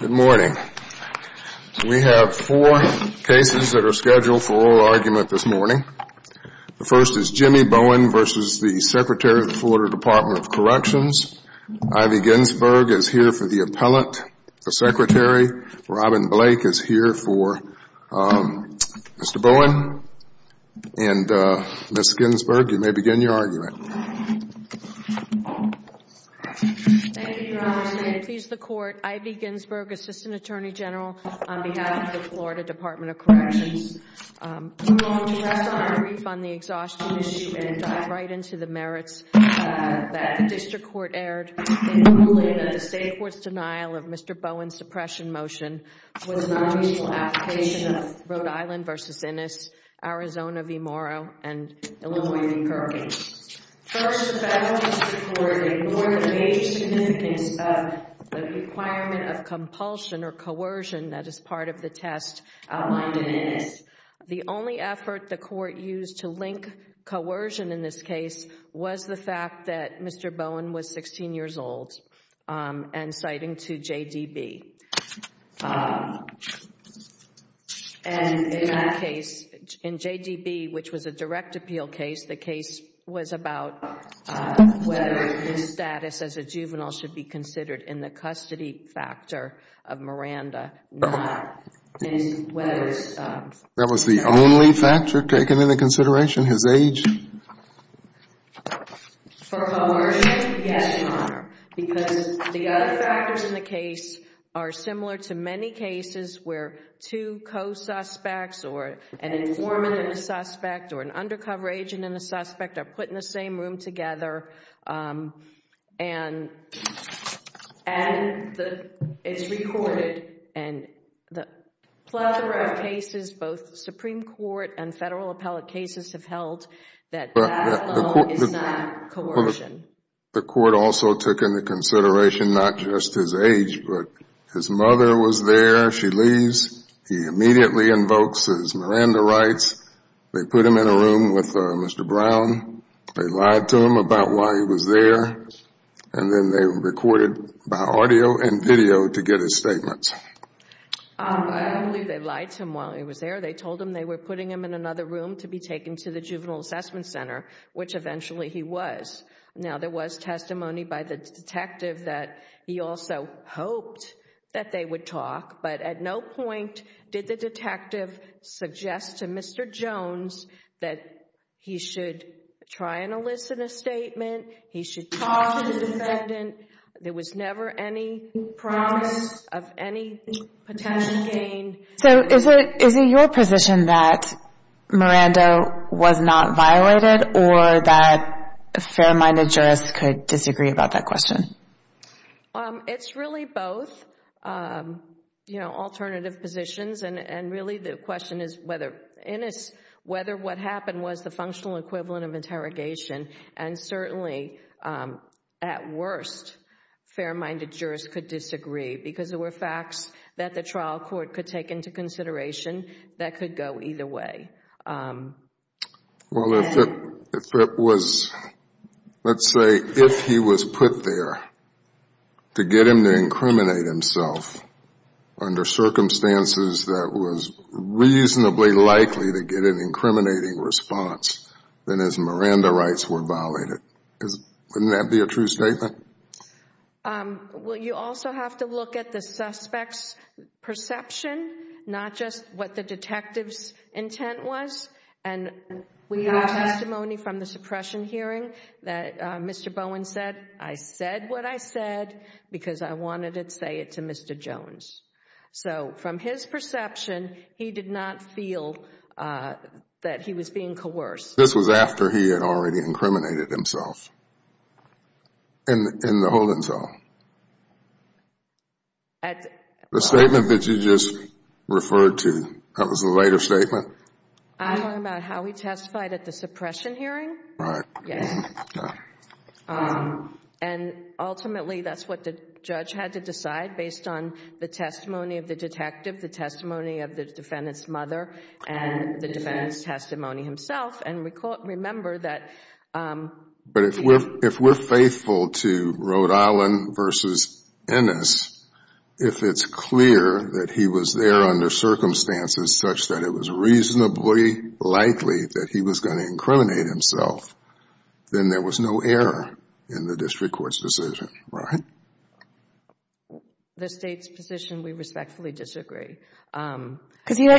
Good morning. We have four cases that are scheduled for oral argument this morning. The first is Jimmie Bowen v. Secretary, Florida Department of Corrections. Ivy Ginsberg is here for the appellant, the secretary. Robin Blake is here for Mr. Bowen. And Ms. Ginsberg, you may begin your argument. Thank you, Your Honor. May it please the Court, Ivy Ginsberg, Assistant Attorney General, on behalf of the Florida Department of Corrections. I'm going to rest on my wreath on the exhaustion issue and dive right into the merits that the district court aired in ruling that the state court's denial of Mr. Bowen's suppression motion was an unreasonable application of Rhode Island v. Ennis, Arizona v. Morrow, and Illinois v. Perkins. First, the faculty supported more than the age significance of the requirement of compulsion or coercion that is part of the test outlined in Ennis. The only effort the court used to link coercion in this case was the fact that Mr. Bowen was 16 years old and citing to JDB. And in that case, in JDB, which was a direct appeal case, the case was about whether his status as a juvenile should be considered in the custody factor of Miranda, not in whether it's... That was the only factor taken into consideration, his age? For coercion, yes, Your Honor. Because the other factors in the case are similar to many cases where two co-suspects or an informant and a suspect or an undercover agent and a suspect are put in the same room together and it's recorded and the Supreme Court and federal appellate cases have held that that alone is not coercion. The court also took into consideration not just his age, but his mother was there, she leaves, he immediately invokes his Miranda rights, they put him in a room with Mr. Brown, they lied to him about why he was there, and then they recorded by audio and video to get his statements. They were putting him in another room to be taken to the juvenile assessment center, which eventually he was. Now there was testimony by the detective that he also hoped that they would talk, but at no point did the detective suggest to Mr. Jones that he should try and elicit a statement, he should talk to the defendant, there was never any promise of any potential gain. So is it your position that Miranda was not violated or that fair-minded jurists could disagree about that question? It's really both alternative positions and really the question is whether what happened was the functional equivalent of interrogation, and certainly at worst, fair-minded jurists could disagree because there were facts that the trial court could take into consideration that could go either way. Well, if it was, let's say, if he was put there to get him to incriminate himself under circumstances that was reasonably likely to get an incriminating response, then his Miranda rights were violated. Wouldn't that be a true statement? Well, you also have to look at the suspect's perception, not just what the detective's intent was, and we have testimony from the suppression hearing that Mr. Bowen said, I said what I said because I wanted to say it to Mr. Jones. So from his perception, he did not feel that he was being coerced. This was after he had already incriminated himself in the holding cell? The statement that you just referred to, that was the later statement? I'm talking about how he testified at the suppression hearing? Right. And ultimately, that's what the judge had to decide based on the testimony of the detective, the testimony of the defendant's mother, and the defendant's testimony himself. And remember that But if we're faithful to Rhode Island v. Ennis, if it's clear that he was there under circumstances such that it was reasonably likely that he was going to incriminate himself, then there was no error in the district court's decision, right? The State's position, we respectfully disagree. Because you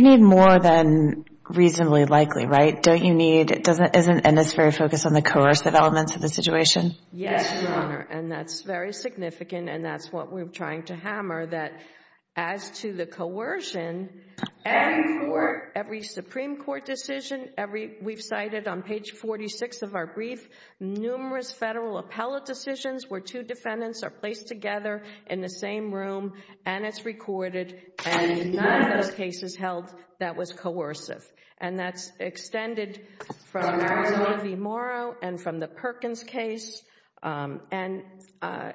need more than reasonably likely, right? Don't you need... Ennis is very focused on the coercive elements of the situation? Yes, Your Honor, and that's very significant, and that's what we're trying to hammer, that as to the coercion, every Supreme Court decision, we've cited on page 46 of our brief, numerous Federal appellate decisions where two defendants are placed together in the same room, and it's recorded, and none of those cases held that was coercive. And that's extended from... from Arizona v. Morrow and from the Perkins case. And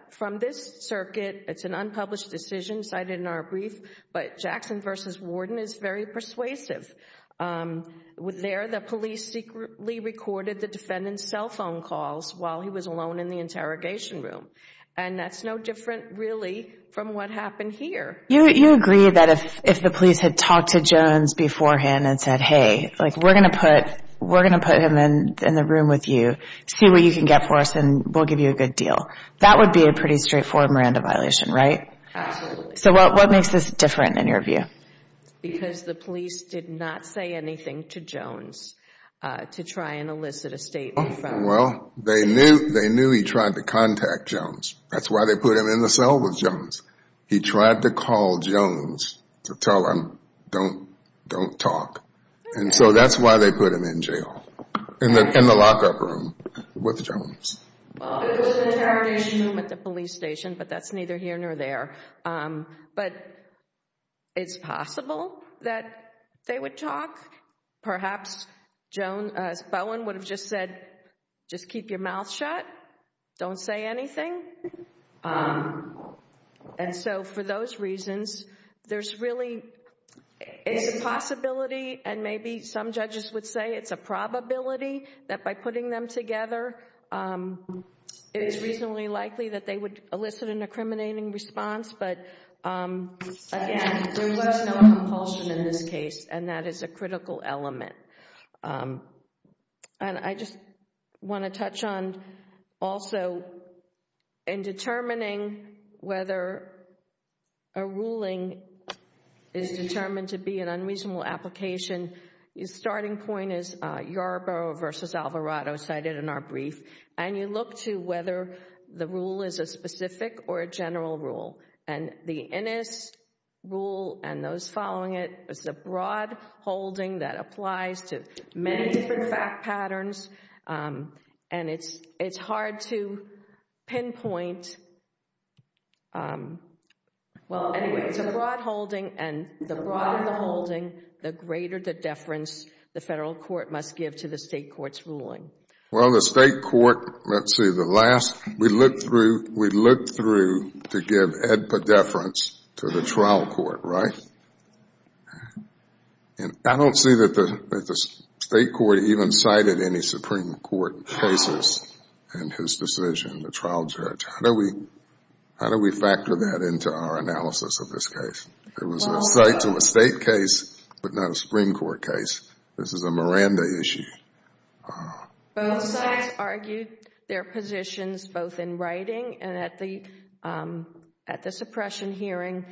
from this circuit, it's an unpublished decision cited in our brief, but Jackson v. Warden is very persuasive. There, the police secretly recorded the defendant's cell phone calls while he was alone in the interrogation room. And that's no different, really, from what happened here. You agree that if the police had talked to Jones beforehand and said, hey, like, we're going to put... we're going to put him in the room with you, see what you can get for us, and we'll give you a good deal. That would be a pretty straightforward Miranda violation, right? Absolutely. So what makes this different in your view? Because the police did not say anything to Jones to try and elicit a statement from... Well, they knew he tried to contact Jones. That's why they put him in the cell with Jones. He tried to call Jones to tell him, don't talk. And so that's why they put him in jail, in the lockup room with Jones. Well, it was in the interrogation room at the police station, but that's neither here nor there. But it's possible that they would talk. Perhaps Bowen would have just said, just keep your mouth shut. Don't say anything. And so, for those reasons, there's really... it's a possibility, and maybe some judges would say it's a probability... that by putting them together, it is reasonably likely that they would elicit an incriminating response. But, again, there was no compulsion in this case, and that is a critical element. And I just want to touch on, also, in determining whether a ruling is determined to be an unreasonable application, the starting point is Yarborough v. Alvarado, cited in our brief. And you look to whether the rule is a specific or a general rule. And the Innis rule, and those following it, is a broad holding that applies to many different fact patterns. And it's hard to pinpoint... Well, anyway, it's a broad holding, and the broader the holding, the greater the deference the Federal Court must give to the State Court's ruling. Well, the State Court... let's see, the last... we looked through... we looked through to give EDPA deference to the trial court, right? And I don't see that the State Court even cited any Supreme Court cases in his decision, the trial judge. How do we factor that into our analysis of this case? It was a site-to-estate case, but not a Supreme Court case. This is a Miranda issue. Both sides argued their positions, both in writing and at the suppression hearing.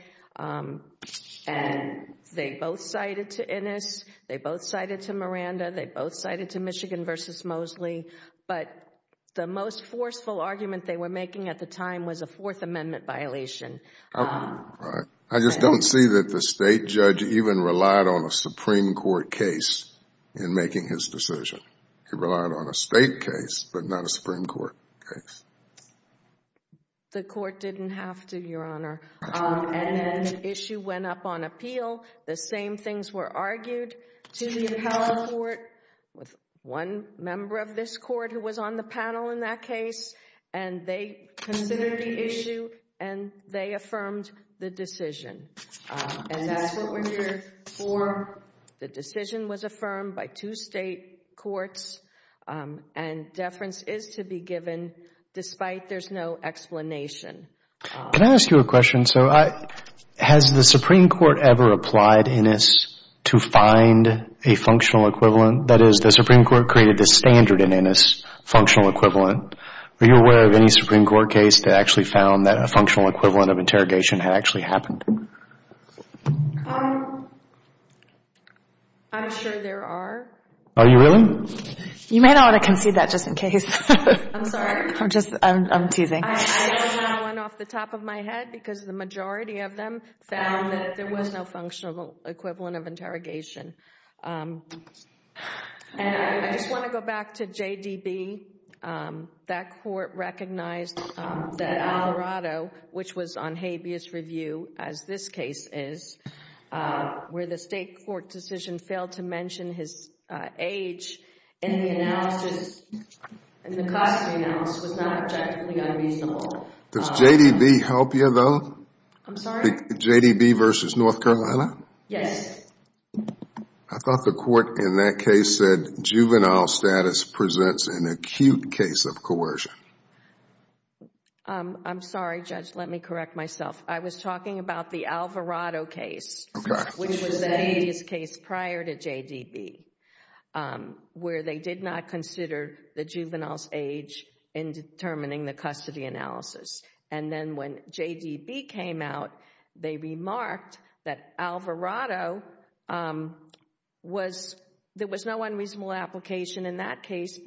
And they both cited to Innis, they both cited to Miranda, they both cited to Michigan v. Mosley. But the most forceful argument they were making at the time was a Fourth Amendment violation. I just don't see that the State judge even relied on a Supreme Court case in making his decision. He relied on a State case, but not a Supreme Court case. And then the issue went up on appeal. The same things were argued to the appellate court with one member of this court who was on the panel in that case. And they considered the issue, and they affirmed the decision. And that's what we're here for. The decision was affirmed by two State courts, and deference is to be given, despite there's no explanation. Can I ask you a question? Has the Supreme Court ever applied Innis to find a functional equivalent? That is, the Supreme Court created this standard in Innis, functional equivalent. Were you aware of any Supreme Court case that actually found that a functional equivalent of interrogation had actually happened? I'm sure there are. Are you willing? You may not want to concede that just in case. I'm sorry. I'm teasing. I don't know one off the top of my head, because the majority of them found that there was no functional equivalent of interrogation. And I just want to go back to JDB. That court recognized that Alvarado, which was on habeas review, as this case is, where the State court decision failed to mention his age in the analysis, in the cost analysis, was not objectively unfeasible. Does JDB help you, though? I'm sorry? In the case of coercion? I'm sorry, Judge. Let me correct myself. I was talking about the Alvarado case, which was a habeas case prior to JDB, where they did not consider the juvenile's age in determining the custody analysis. And then when JDB came out, they remarked that Alvarado, there was no unreasonable application in that case,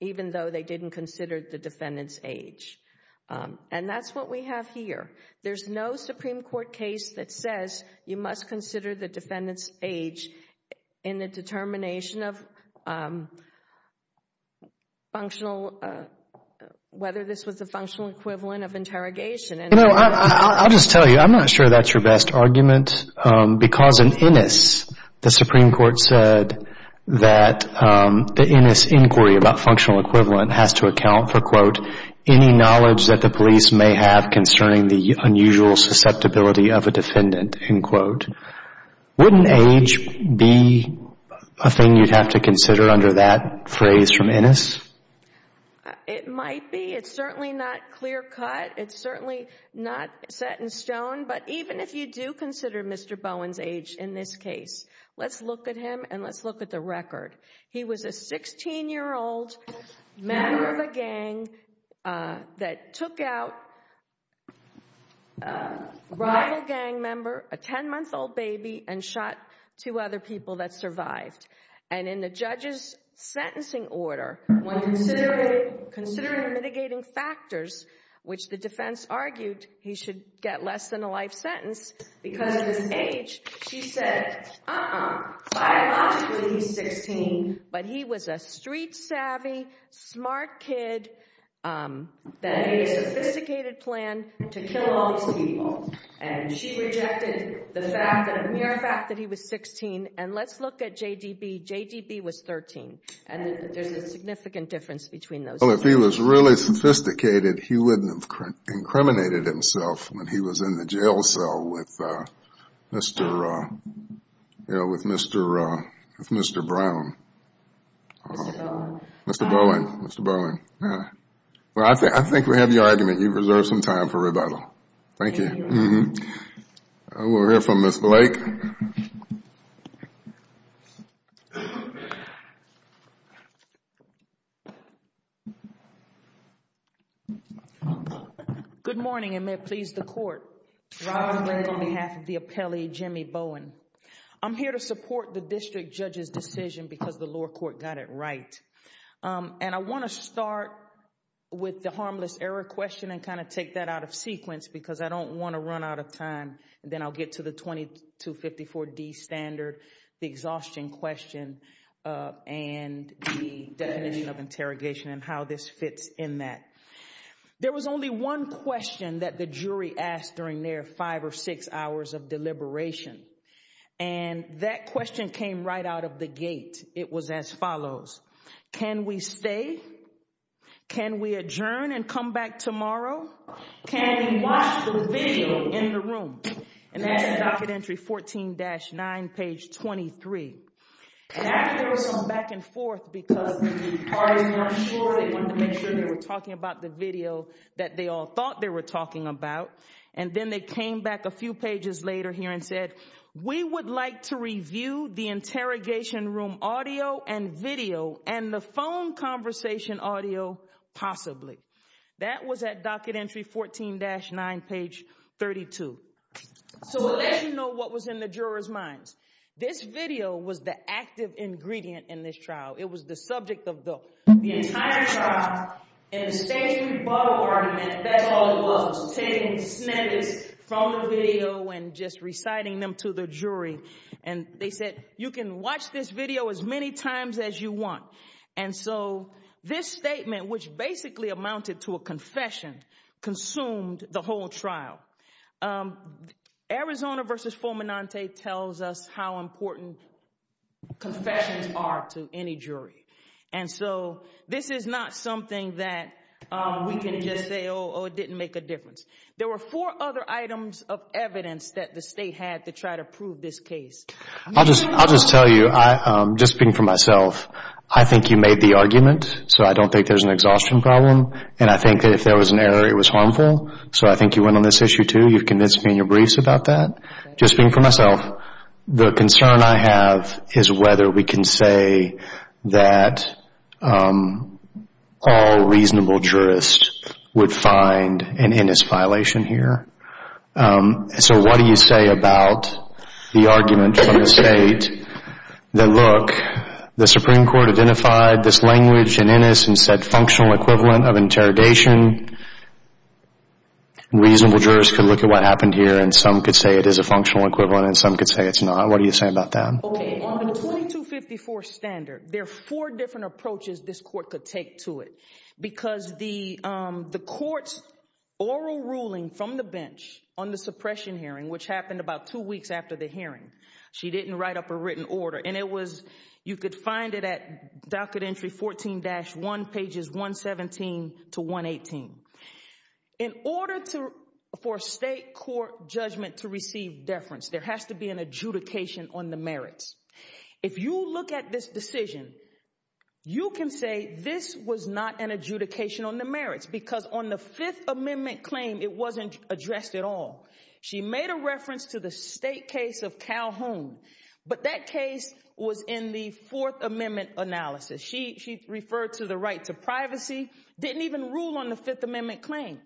even though they did not consider the juvenile's age in determining the custody analysis. And that's what we have here. There's no Supreme Court case that says you must consider the defendant's age in the determination of functional, whether this was a functional equivalent of interrogation. I'll just tell you, I'm not sure that's your best argument, because in Innis, the Supreme Court said that the Innis inquiry about functional equivalent has to be a functional equivalent. And it has to account for, quote, Wouldn't age be a thing you'd have to consider under that phrase from Innis? It might be. It's certainly not clear cut. It's certainly not set in stone. But even if you do consider Mr. Bowen's age in this case, let's look at him and let's look at the record. He was a 16-year-old member of a gang that took out a rival gang member, a 10-month-old baby, and shot two other people that survived. And in the judge's sentencing order, when considering mitigating factors, which the defense argued he should get less than a life sentence because of his age, she said, uh-uh. Biologically, he's 16, but he was a street-savvy, smart kid that had a sophisticated plan to kill all these people. And she rejected the fact, the mere fact that he was 16. And let's look at J.D.B. J.D.B. was 13. And there's a significant difference between those two. Well, if he was really sophisticated, he wouldn't have incriminated himself when he was in the jail cell with Mr. Bowen. Mr. Bowen, Mr. Bowen. Well, I think we have your argument. You've reserved some time for rebuttal. Thank you. We'll hear from Ms. Blake. Good morning, and may it please the Court. Robin Blake on behalf of the appellee, Jimmy Bowen. I'm here to support the district judge's decision because the lower court got it right. And I want to start with the harmless error question and kind of take that out of sequence because I don't want to run out of time. Then I'll get to the 2254D standard, the exhaustion question, and the definition of interrogation and how this fits in that. There was only one question that the jury asked during their five or six hours of deliberation. And that question came right out of the gate. It was as follows. Can we stay? Can we adjourn and come back tomorrow? Can we watch the video in the room? And that's at docket entry 14-9, page 23. And after there was some back and forth because the parties were unsure, they wanted to make sure they were talking about the video that they all thought they were talking about. And then they came back a few pages later here and said, we would like to review the interrogation room audio and video and the phone conversation audio possibly. That was at docket entry 14-9, page 32. So we'll let you know what was in the jurors' minds. This video was the active ingredient in this trial. It was the subject of the entire trial. And the State's rebuttal argument, that's all it was, was taking snippets from the video and just reciting them to the jury. And they said, you can watch this video as many times as you want. And so this statement, which basically amounted to a confession, consumed the whole trial. Arizona v. Fulminante tells us how important confessions are to any jury. And so this is not something that we can just say, oh, it didn't make a difference. There were four other items of evidence that the State had to try to prove this case. I'll just tell you, just speaking for myself, I think you made the argument. So I don't think there's an exhaustion problem. And I think that if there was an error, it was harmful. So I think you went on this issue, too. You've convinced me in your briefs about that. Just speaking for myself, the concern I have is whether we can say that all reasonable jurists would find an Innis violation here. So what do you say about the argument from the State that, look, the Supreme Court identified this language in Innis and said functional equivalent of interrogation. Reasonable jurists could look at what happened here, and some could say it is a functional equivalent, and some could say it's not. What do you say about that? On the 2254 standard, there are four different approaches this Court could take to it. Because the Court's oral ruling from the bench on the suppression hearing, which happened about two weeks after the hearing, she didn't write up a written order. And it was, you could find it at docket entry 14-1, pages 117 to 118. In order for a State court judgment to receive deference, there has to be an adjudication on the merits. If you look at this decision, you can say this was not an adjudication on the merits, because on the Fifth Amendment claim, it wasn't addressed at all. She made a reference to the State case of Calhoun, but that case was in the Fourth Amendment analysis. She referred to the right to privacy, didn't even rule on the Fifth Amendment claim.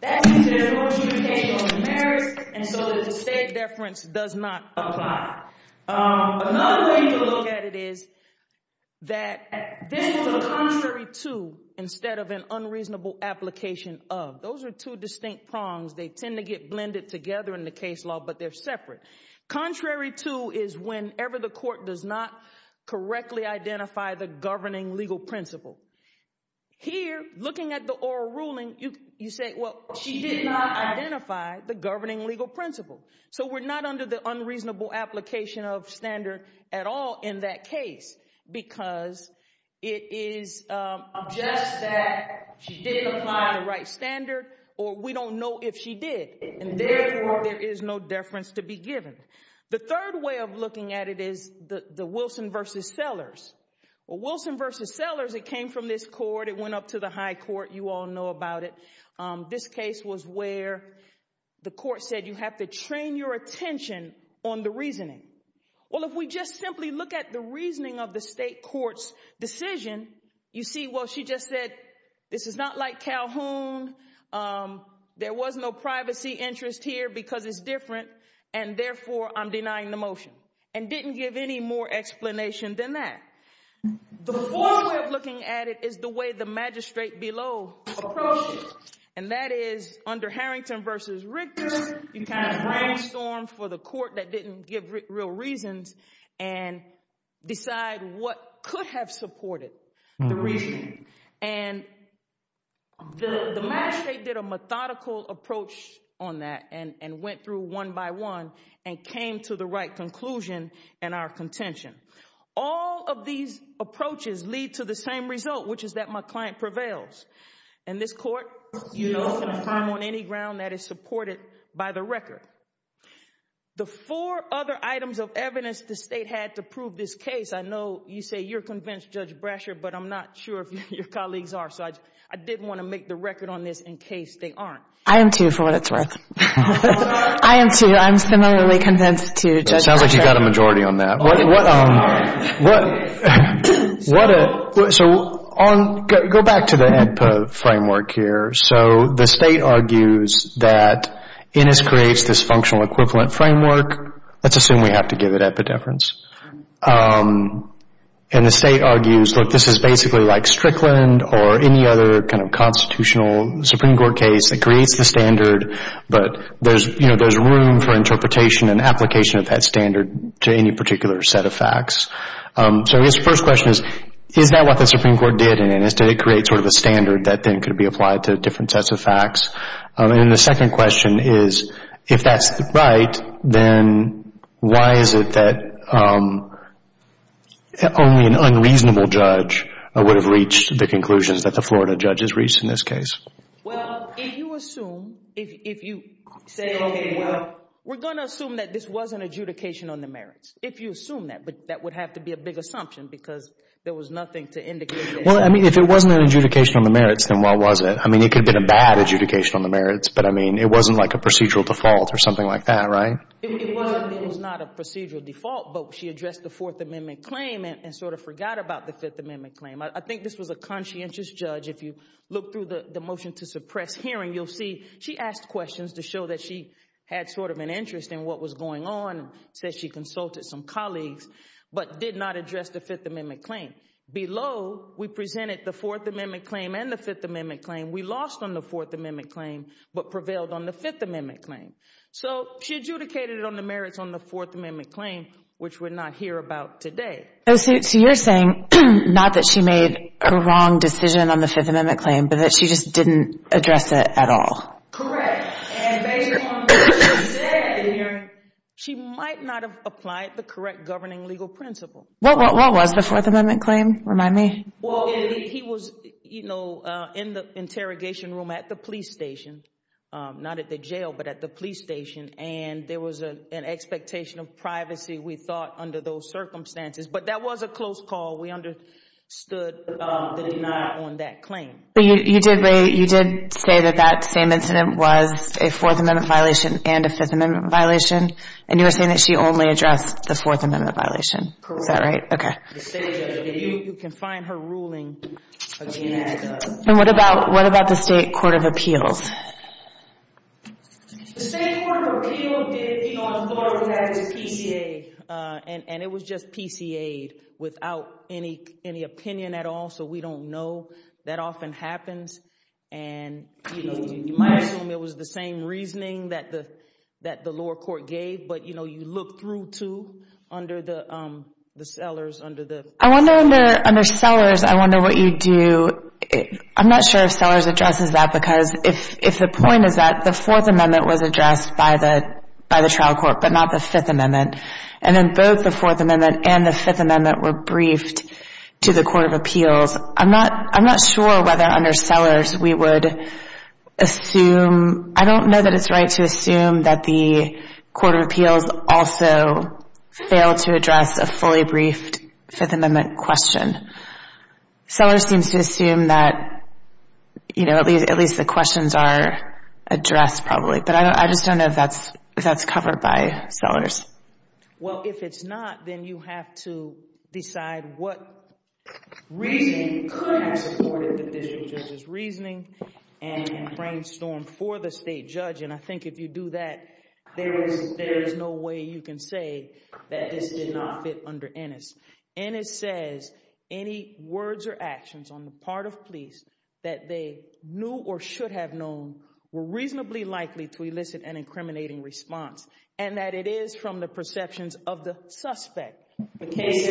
That's because there's no adjudication on the merits, and so the State deference does not apply. Another way to look at it is that this was a contrary to, instead of an unreasonable application of. Those are two distinct prongs. They tend to get blended together in the case law, but they're separate. Contrary to is whenever the Court does not correctly identify the governing legal principle. Here, looking at the oral ruling, you say, well, she did not identify the governing legal principle. So we're not under the unreasonable application of standard at all in that case, because it is just that she didn't apply the right standards, or we don't know if she did, and therefore there is no deference to be given. The third way of looking at it is the Wilson v. Sellers. Well, Wilson v. Sellers, it came from this Court. It went up to the High Court. You all know about it. This case was where the Court said you have to train your attention on the reasoning. Well, if we just simply look at the reasoning of the State Court's decision, you see, well, she just said, this is not like Calhoun. There was no privacy interest here because it's different, and therefore I'm denying the motion, and didn't give any more explanation than that. The fourth way of looking at it is the way the magistrate below approached it, and that is under Harrington v. Richter, you kind of brainstorm for the Court that didn't give real reasons and decide what could have supported the reasoning. And the magistrate did a methodical approach on that and went through one by one and came to the right conclusion in our contention. All of these approaches lead to the same result, which is that my client prevails. And this Court, you know, is going to climb on any ground that is supported by the record. The four other items of evidence the State had to prove this case, I know you say you're convinced, Judge Brasher, but I'm not sure if your colleagues are, so I did want to make the record on this in case they aren't. I am, too, for what it's worth. I am, too. I'm similarly convinced to Judge Brasher. It sounds like you've got a majority on that. Go back to the EPA framework here. So the State argues that Innis creates this functional equivalent framework. Let's assume we have to give it epidefference. And the State argues, look, this is basically like Strickland or any other kind of constitutional Supreme Court case. It creates the standard, but there's room for interpretation and application of that standard to any particular set of facts. So I guess the first question is, is that what the Supreme Court did in Innis? Did it create sort of a standard that then could be applied to different sets of facts? And then the second question is, if that's right, then why is it that only an unreasonable judge would have reached the conclusions that the Florida judge has reached in this case? Well, if you assume, if you say, okay, well, we're going to assume that this was an adjudication on the merits, if you assume that. But that would have to be a big assumption, because there was nothing to indicate. Well, I mean, if it wasn't an adjudication on the merits, then what was it? I mean, it could have been a bad adjudication on the merits, but I mean, it wasn't like a procedural default or something like that, right? It was not a procedural default, but she addressed the Fourth Amendment claim and sort of forgot about the Fifth Amendment claim. I think this was a conscientious judge. If you look through the motion to suppress hearing, you'll see she asked questions to show that she had sort of an interest in what was going on, said she consulted some colleagues, but did not address the Fifth Amendment claim. Below, we presented the Fourth Amendment claim and the Fifth Amendment claim. We lost on the Fourth Amendment claim, but prevailed on the Fifth Amendment claim. So she adjudicated on the merits on the Fourth Amendment claim, which we're not here about today. So you're saying not that she made a wrong decision on the Fifth Amendment claim, but that she just didn't address it at all? Correct. And based on what she said at the hearing, she might not have applied the correct governing legal principle. What was the Fourth Amendment claim? Remind me. He was in the interrogation room at the police station, not at the jail, but at the police station, and there was an expectation of privacy, we thought, under those circumstances. But that was a close call. We understood the denial on that claim. You did say that that same incident was a Fourth Amendment violation and a Fifth Amendment violation, and you were saying that she only addressed the Fourth Amendment violation. Is that right? Correct. You can find her ruling. And what about the State Court of Appeals? The State Court of Appeals did appeal on Florida's PCA, and it was just PCA'd without any opinion at all, so we don't know. That often happens. You might assume it was the same reasoning that the lower court gave, but you look through, too, under Sellers. Under Sellers, I wonder what you do. I'm not sure if Sellers addresses that, because if the point is that the Fourth Amendment was addressed by the trial court, but not the Fifth Amendment, and then both the Fourth Amendment and the Fifth Amendment were briefed to the Court of Appeals, I'm not sure whether under Sellers we would assume. I don't know that it's right to assume that the Court of Appeals also failed to address a fully briefed Fifth Amendment question. Sellers seems to assume that at least the questions are addressed, probably, but I just don't know if that's covered by Sellers. Well, if it's not, then you have to decide what reasoning could have supported the district judge's reasoning and brainstorm for the state judge, and I think if you do that, there is no way you can say that this did not fit under Ennis. Ennis says any words or actions on the part of police that they knew or should have known were reasonably likely to elicit an incriminating response, and that it is from the perceptions of the suspect. The case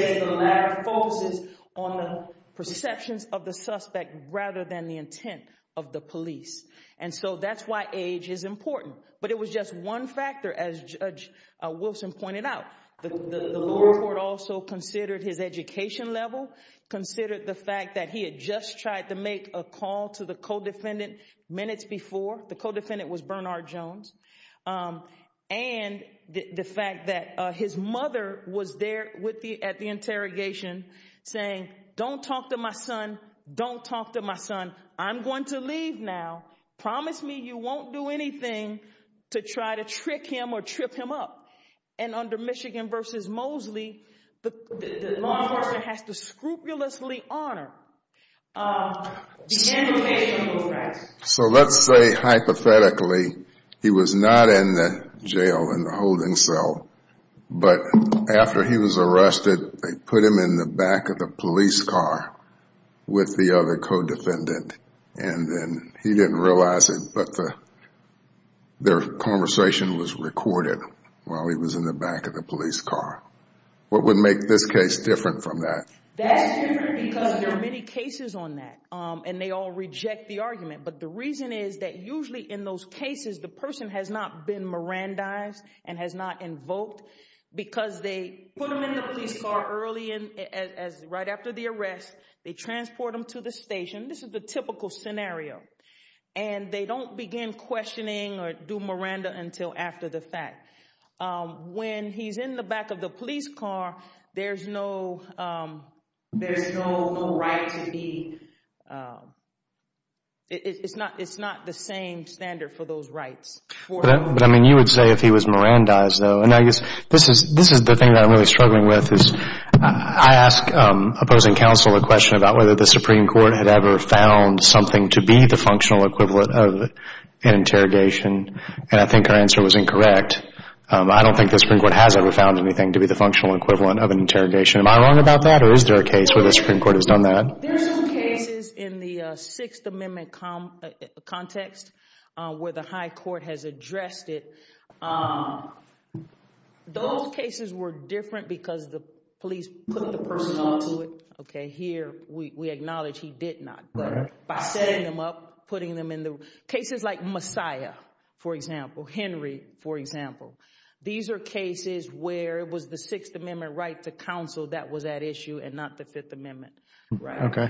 focuses on the perceptions of the suspect rather than the intent of the police, and so that's why age is important. But it was just one factor, as Judge Wilson pointed out. The lower court also considered his education level, considered the fact that he had just tried to make a call to the co-defendant minutes before. The co-defendant was Bernard Jones. And the fact that his mother was there at the interrogation saying, don't talk to my son, don't talk to my son. I'm going to leave now. Promise me you won't do anything to try to trick him or trip him up. And under Michigan v. Mosley, the law enforcement has to scrupulously honor the handling of those rights. So let's say, hypothetically, he was not in the jail in the holding cell, but after he was arrested, they put him in the back of the police car with the other co-defendant, and then he didn't realize it, but their conversation was recorded while he was in the back of the police car. What would make this case different from that? That's different because there are many cases on that, and they all reject the argument. But the reason is that usually in those cases, the person has not been Mirandized and has not invoked because they put him in the police car early, right after the arrest. They transport him to the station. This is the typical scenario. And they don't begin questioning or do Miranda until after the fact. When he's in the back of the police car, there's no right to be. It's not the same standard for those rights. You would say if he was Mirandized, though. This is the thing that I'm really struggling with. I ask opposing counsel a question about whether the Supreme Court had ever found something to be the functional equivalent of an interrogation, and I think our answer was incorrect. I don't think the Supreme Court has ever found anything to be the functional equivalent of an interrogation. Am I wrong about that, or is there a case where the Supreme Court has done that? There are some cases in the Sixth Amendment context where the high court has addressed it. Those cases were different because the police put the person onto it. Here, we acknowledge he did not, but by setting them up, putting them in the... Cases like Messiah, for example, Henry, for example. These are cases where it was the Sixth Amendment right to counsel that was at issue and not the Fifth Amendment. What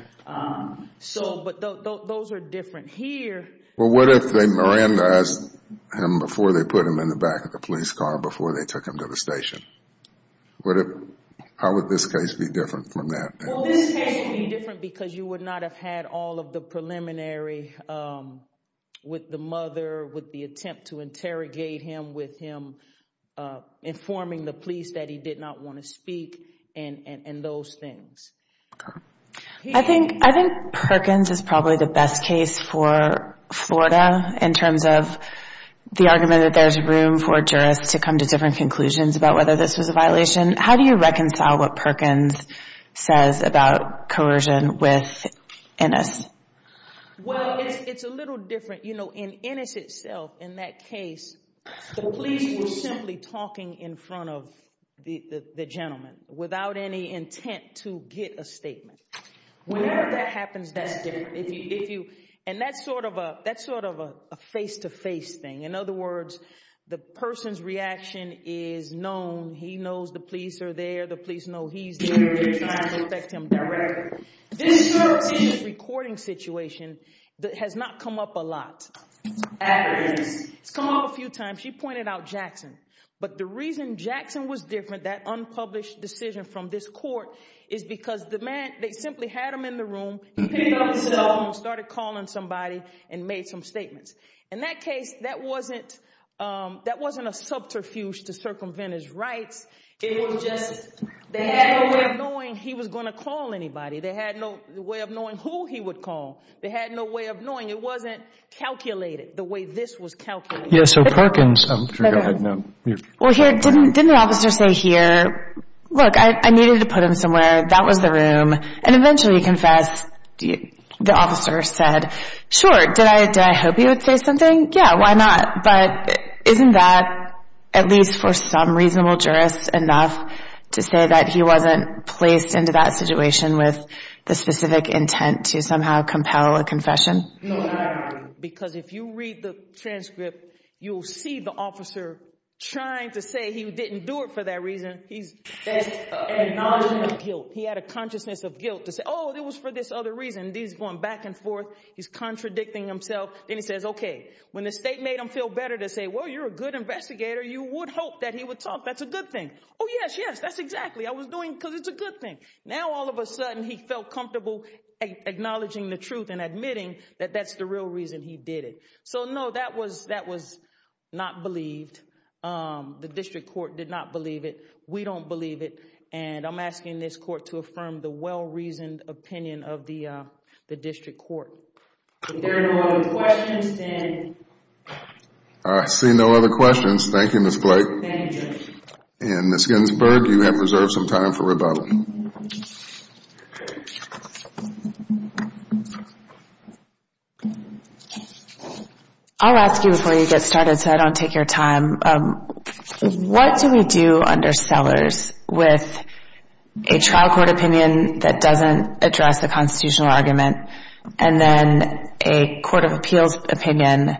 if Miranda asked him before they put him in the back of the police car, before they took him to the station? How would this case be different from that? This case would be different because you would not have had all of the preliminary with the mother, with the attempt to interrogate him, with him informing the police that he did not want to speak, and those things. I think Perkins is probably the best case for Florida in terms of the argument that there's room for jurists to come to different conclusions about whether this was a violation. How do you reconcile what Perkins says about coercion with Innis? In Innis itself, in that case, the police were simply talking in front of the gentleman without any intent to get a statement. Wherever that happens, that's different. That's sort of a face-to-face thing. In other words, the person's reaction is known. He knows the police are there. The police know he's there. They're trying to affect him directly. This recording situation has not come up a lot. It's come up a few times. She pointed out Jackson. But the reason Jackson was different, that unpublished decision from this court, is because they simply had him in the room, picked up his cell phone, started calling somebody, and made some statements. In that case, that wasn't a subterfuge to circumvent his rights. It was just they had no way of knowing he was going to call anybody. They had no way of knowing who he would call. They had no way of knowing. It wasn't calculated the way this was calculated. Didn't the officer say here, look, I needed to put him somewhere. That was the room. And eventually he confessed. The officer said, sure, did I hope he would say something? Yeah, why not? But isn't that, at least for some reasonable jurists, enough to say that he wasn't placed into that situation with the specific intent to somehow compel a confession? No, not at all. Because if you read the transcript, you'll see the officer trying to say he didn't do it for that reason. He's acknowledging guilt. He had a consciousness of guilt to say, oh, it was for this other reason. He's going back and forth. He's contradicting himself. Then he says, okay. When the state made him feel better to say, well, you're a good investigator, you would hope that he would talk. That's a good thing. Oh, yes, yes, that's exactly. I was doing it because it's a good thing. Now all of a sudden he felt comfortable acknowledging the truth and admitting that that's the real reason he did it. No, that was not believed. The district court did not believe it. We don't believe it. I'm asking this court to affirm the well-reasoned opinion of the district court. If there are no other questions, then... I see no other questions. Thank you, Ms. Blake. Thank you, Judge. Ms. Ginsburg, you have reserved some time for rebuttal. I'll ask you before you get started so I don't take your time. What do we do under Sellers with a trial court opinion that doesn't address the constitutional argument and then a court of appeals opinion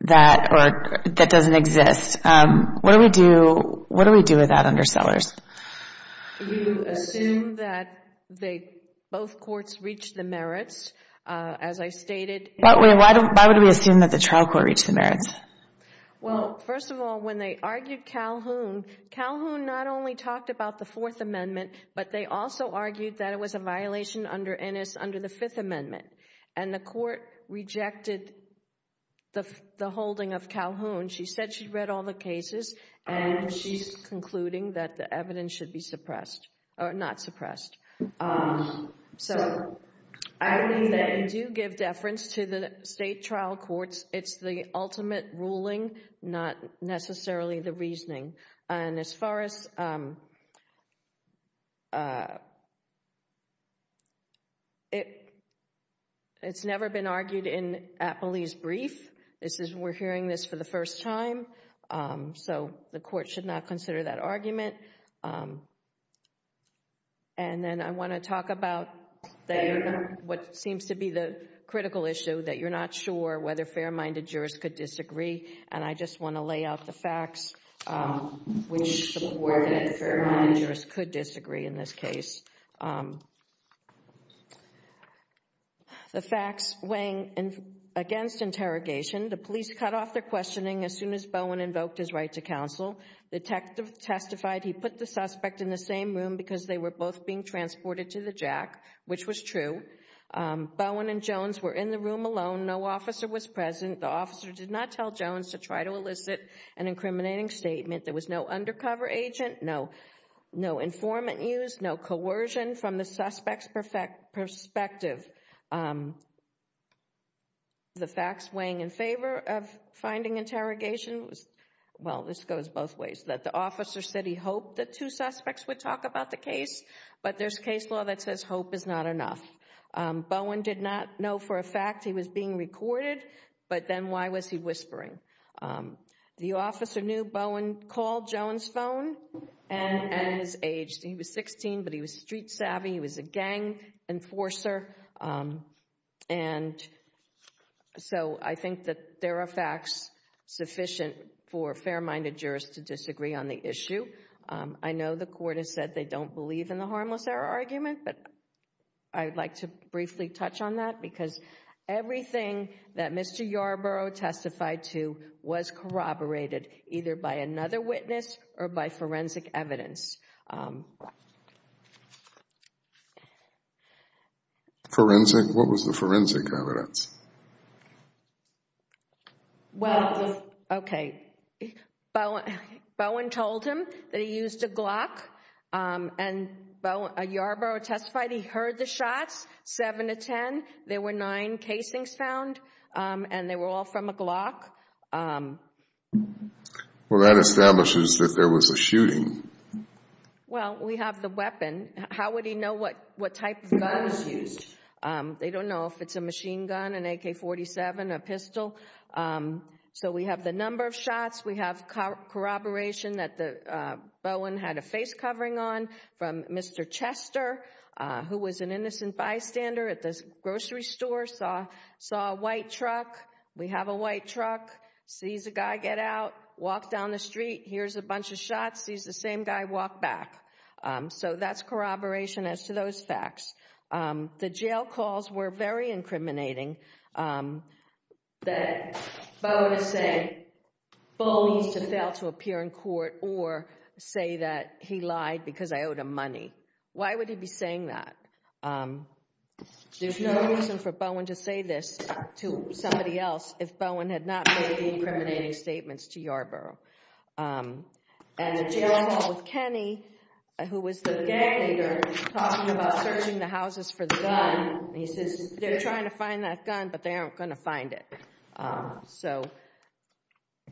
that doesn't exist? What do we do with that under Sellers? You assume that both courts reach the merits, as I stated. Why would we assume that the trial court reached the merits? First of all, when they argued Calhoun, Calhoun not only talked about the Fourth Amendment, but they also argued that it was a violation under Ennis under the Fifth Amendment. The court rejected the holding of Calhoun. She said she'd read all the cases and she's concluding that the evidence should be suppressed. Or not suppressed. I believe that you do give deference to the state trial courts. It's the ultimate ruling, not necessarily the reasoning. It's never been argued in Appley's brief. We're hearing this for the first time. And then I want to talk about what seems to be the critical issue, that you're not sure whether fair-minded jurors could disagree. And I just want to lay out the facts which support that fair-minded jurors could disagree in this case. The facts weighing against interrogation. The police cut off their questioning as soon as Bowen invoked his right to counsel. The detective testified he put the suspect in the same room because they were both being transported to the JAC, which was true. Bowen and Jones were in the room alone. No officer was present. The officer did not tell Jones to try to elicit an incriminating statement. There was no undercover agent, no informant used, no coercion from the suspect's perspective. The facts weighing in favor of finding interrogation, well, this goes both ways, that the officer said he hoped that two suspects would talk about the case, but there's case law that says hope is not enough. Bowen did not know for a fact he was being recorded, but then why was he whispering? The officer knew Bowen called Jones' phone at his age. He was 16, but he was street savvy. He was a gang enforcer. And so I think that there are facts sufficient for fair-minded jurors to disagree on the issue. I know the court has said they don't believe in the harmless error argument, but I'd like to briefly touch on that because everything that Mr. Yarbrough testified to was corroborated, either by another witness or by forensic evidence. Forensic? What was the forensic evidence? Well, okay, Bowen told him that he used a Glock, and Bowen, Yarbrough testified he heard the shots, seven to ten, there were nine casings found, and they were all from a Glock. Well, that establishes that there was a shooting. Well, we have the weapon. How would he know what type of gun was used? They don't know if it's a machine gun, an AK-47, a pistol. So we have the number of shots. We have corroboration that Bowen had a face covering on from Mr. Chester, who was an innocent bystander at the grocery store, saw a white truck, we have a white truck, sees a guy get out, walks down the street, hears a bunch of shots, sees the same guy walk back. So that's corroboration as to those facts. The jail calls were very incriminating that Bowen said, Bowen needs to fail to appear in court or say that he lied because I owed him money. Why would he be saying that? There's no reason for Bowen to say this to somebody else if Bowen had not made the incriminating statements to Yarbrough. And the jail call with Kenny, who was the gang leader, talking about searching the houses for the gun, he says, they're trying to find that gun, but they aren't going to find it. So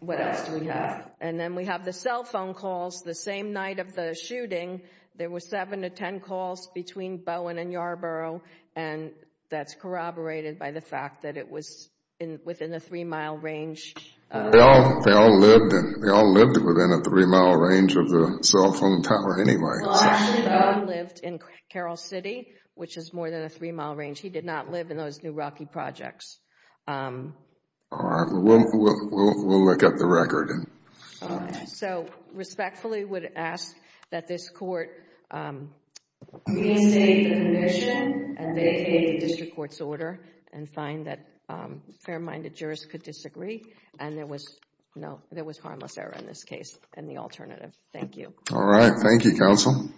what else do we have? And then we have the cell phone calls. The same night of the shooting, there were seven to ten calls between Bowen and Yarbrough, and that's corroborated by the fact that it was within a three-mile range. They all lived within a three-mile range of the cell phone tower anyway. Actually, Bowen lived in Carroll City, which is more than a three-mile range. He did not live in those New Rocky projects. All right. We'll look at the record. So respectfully would ask that this court reinstate the commission and vacate the district court's order and find that fair-minded jurists could disagree. And there was harmless error in this case and the alternative. Thank you. All right. Thank you, counsel.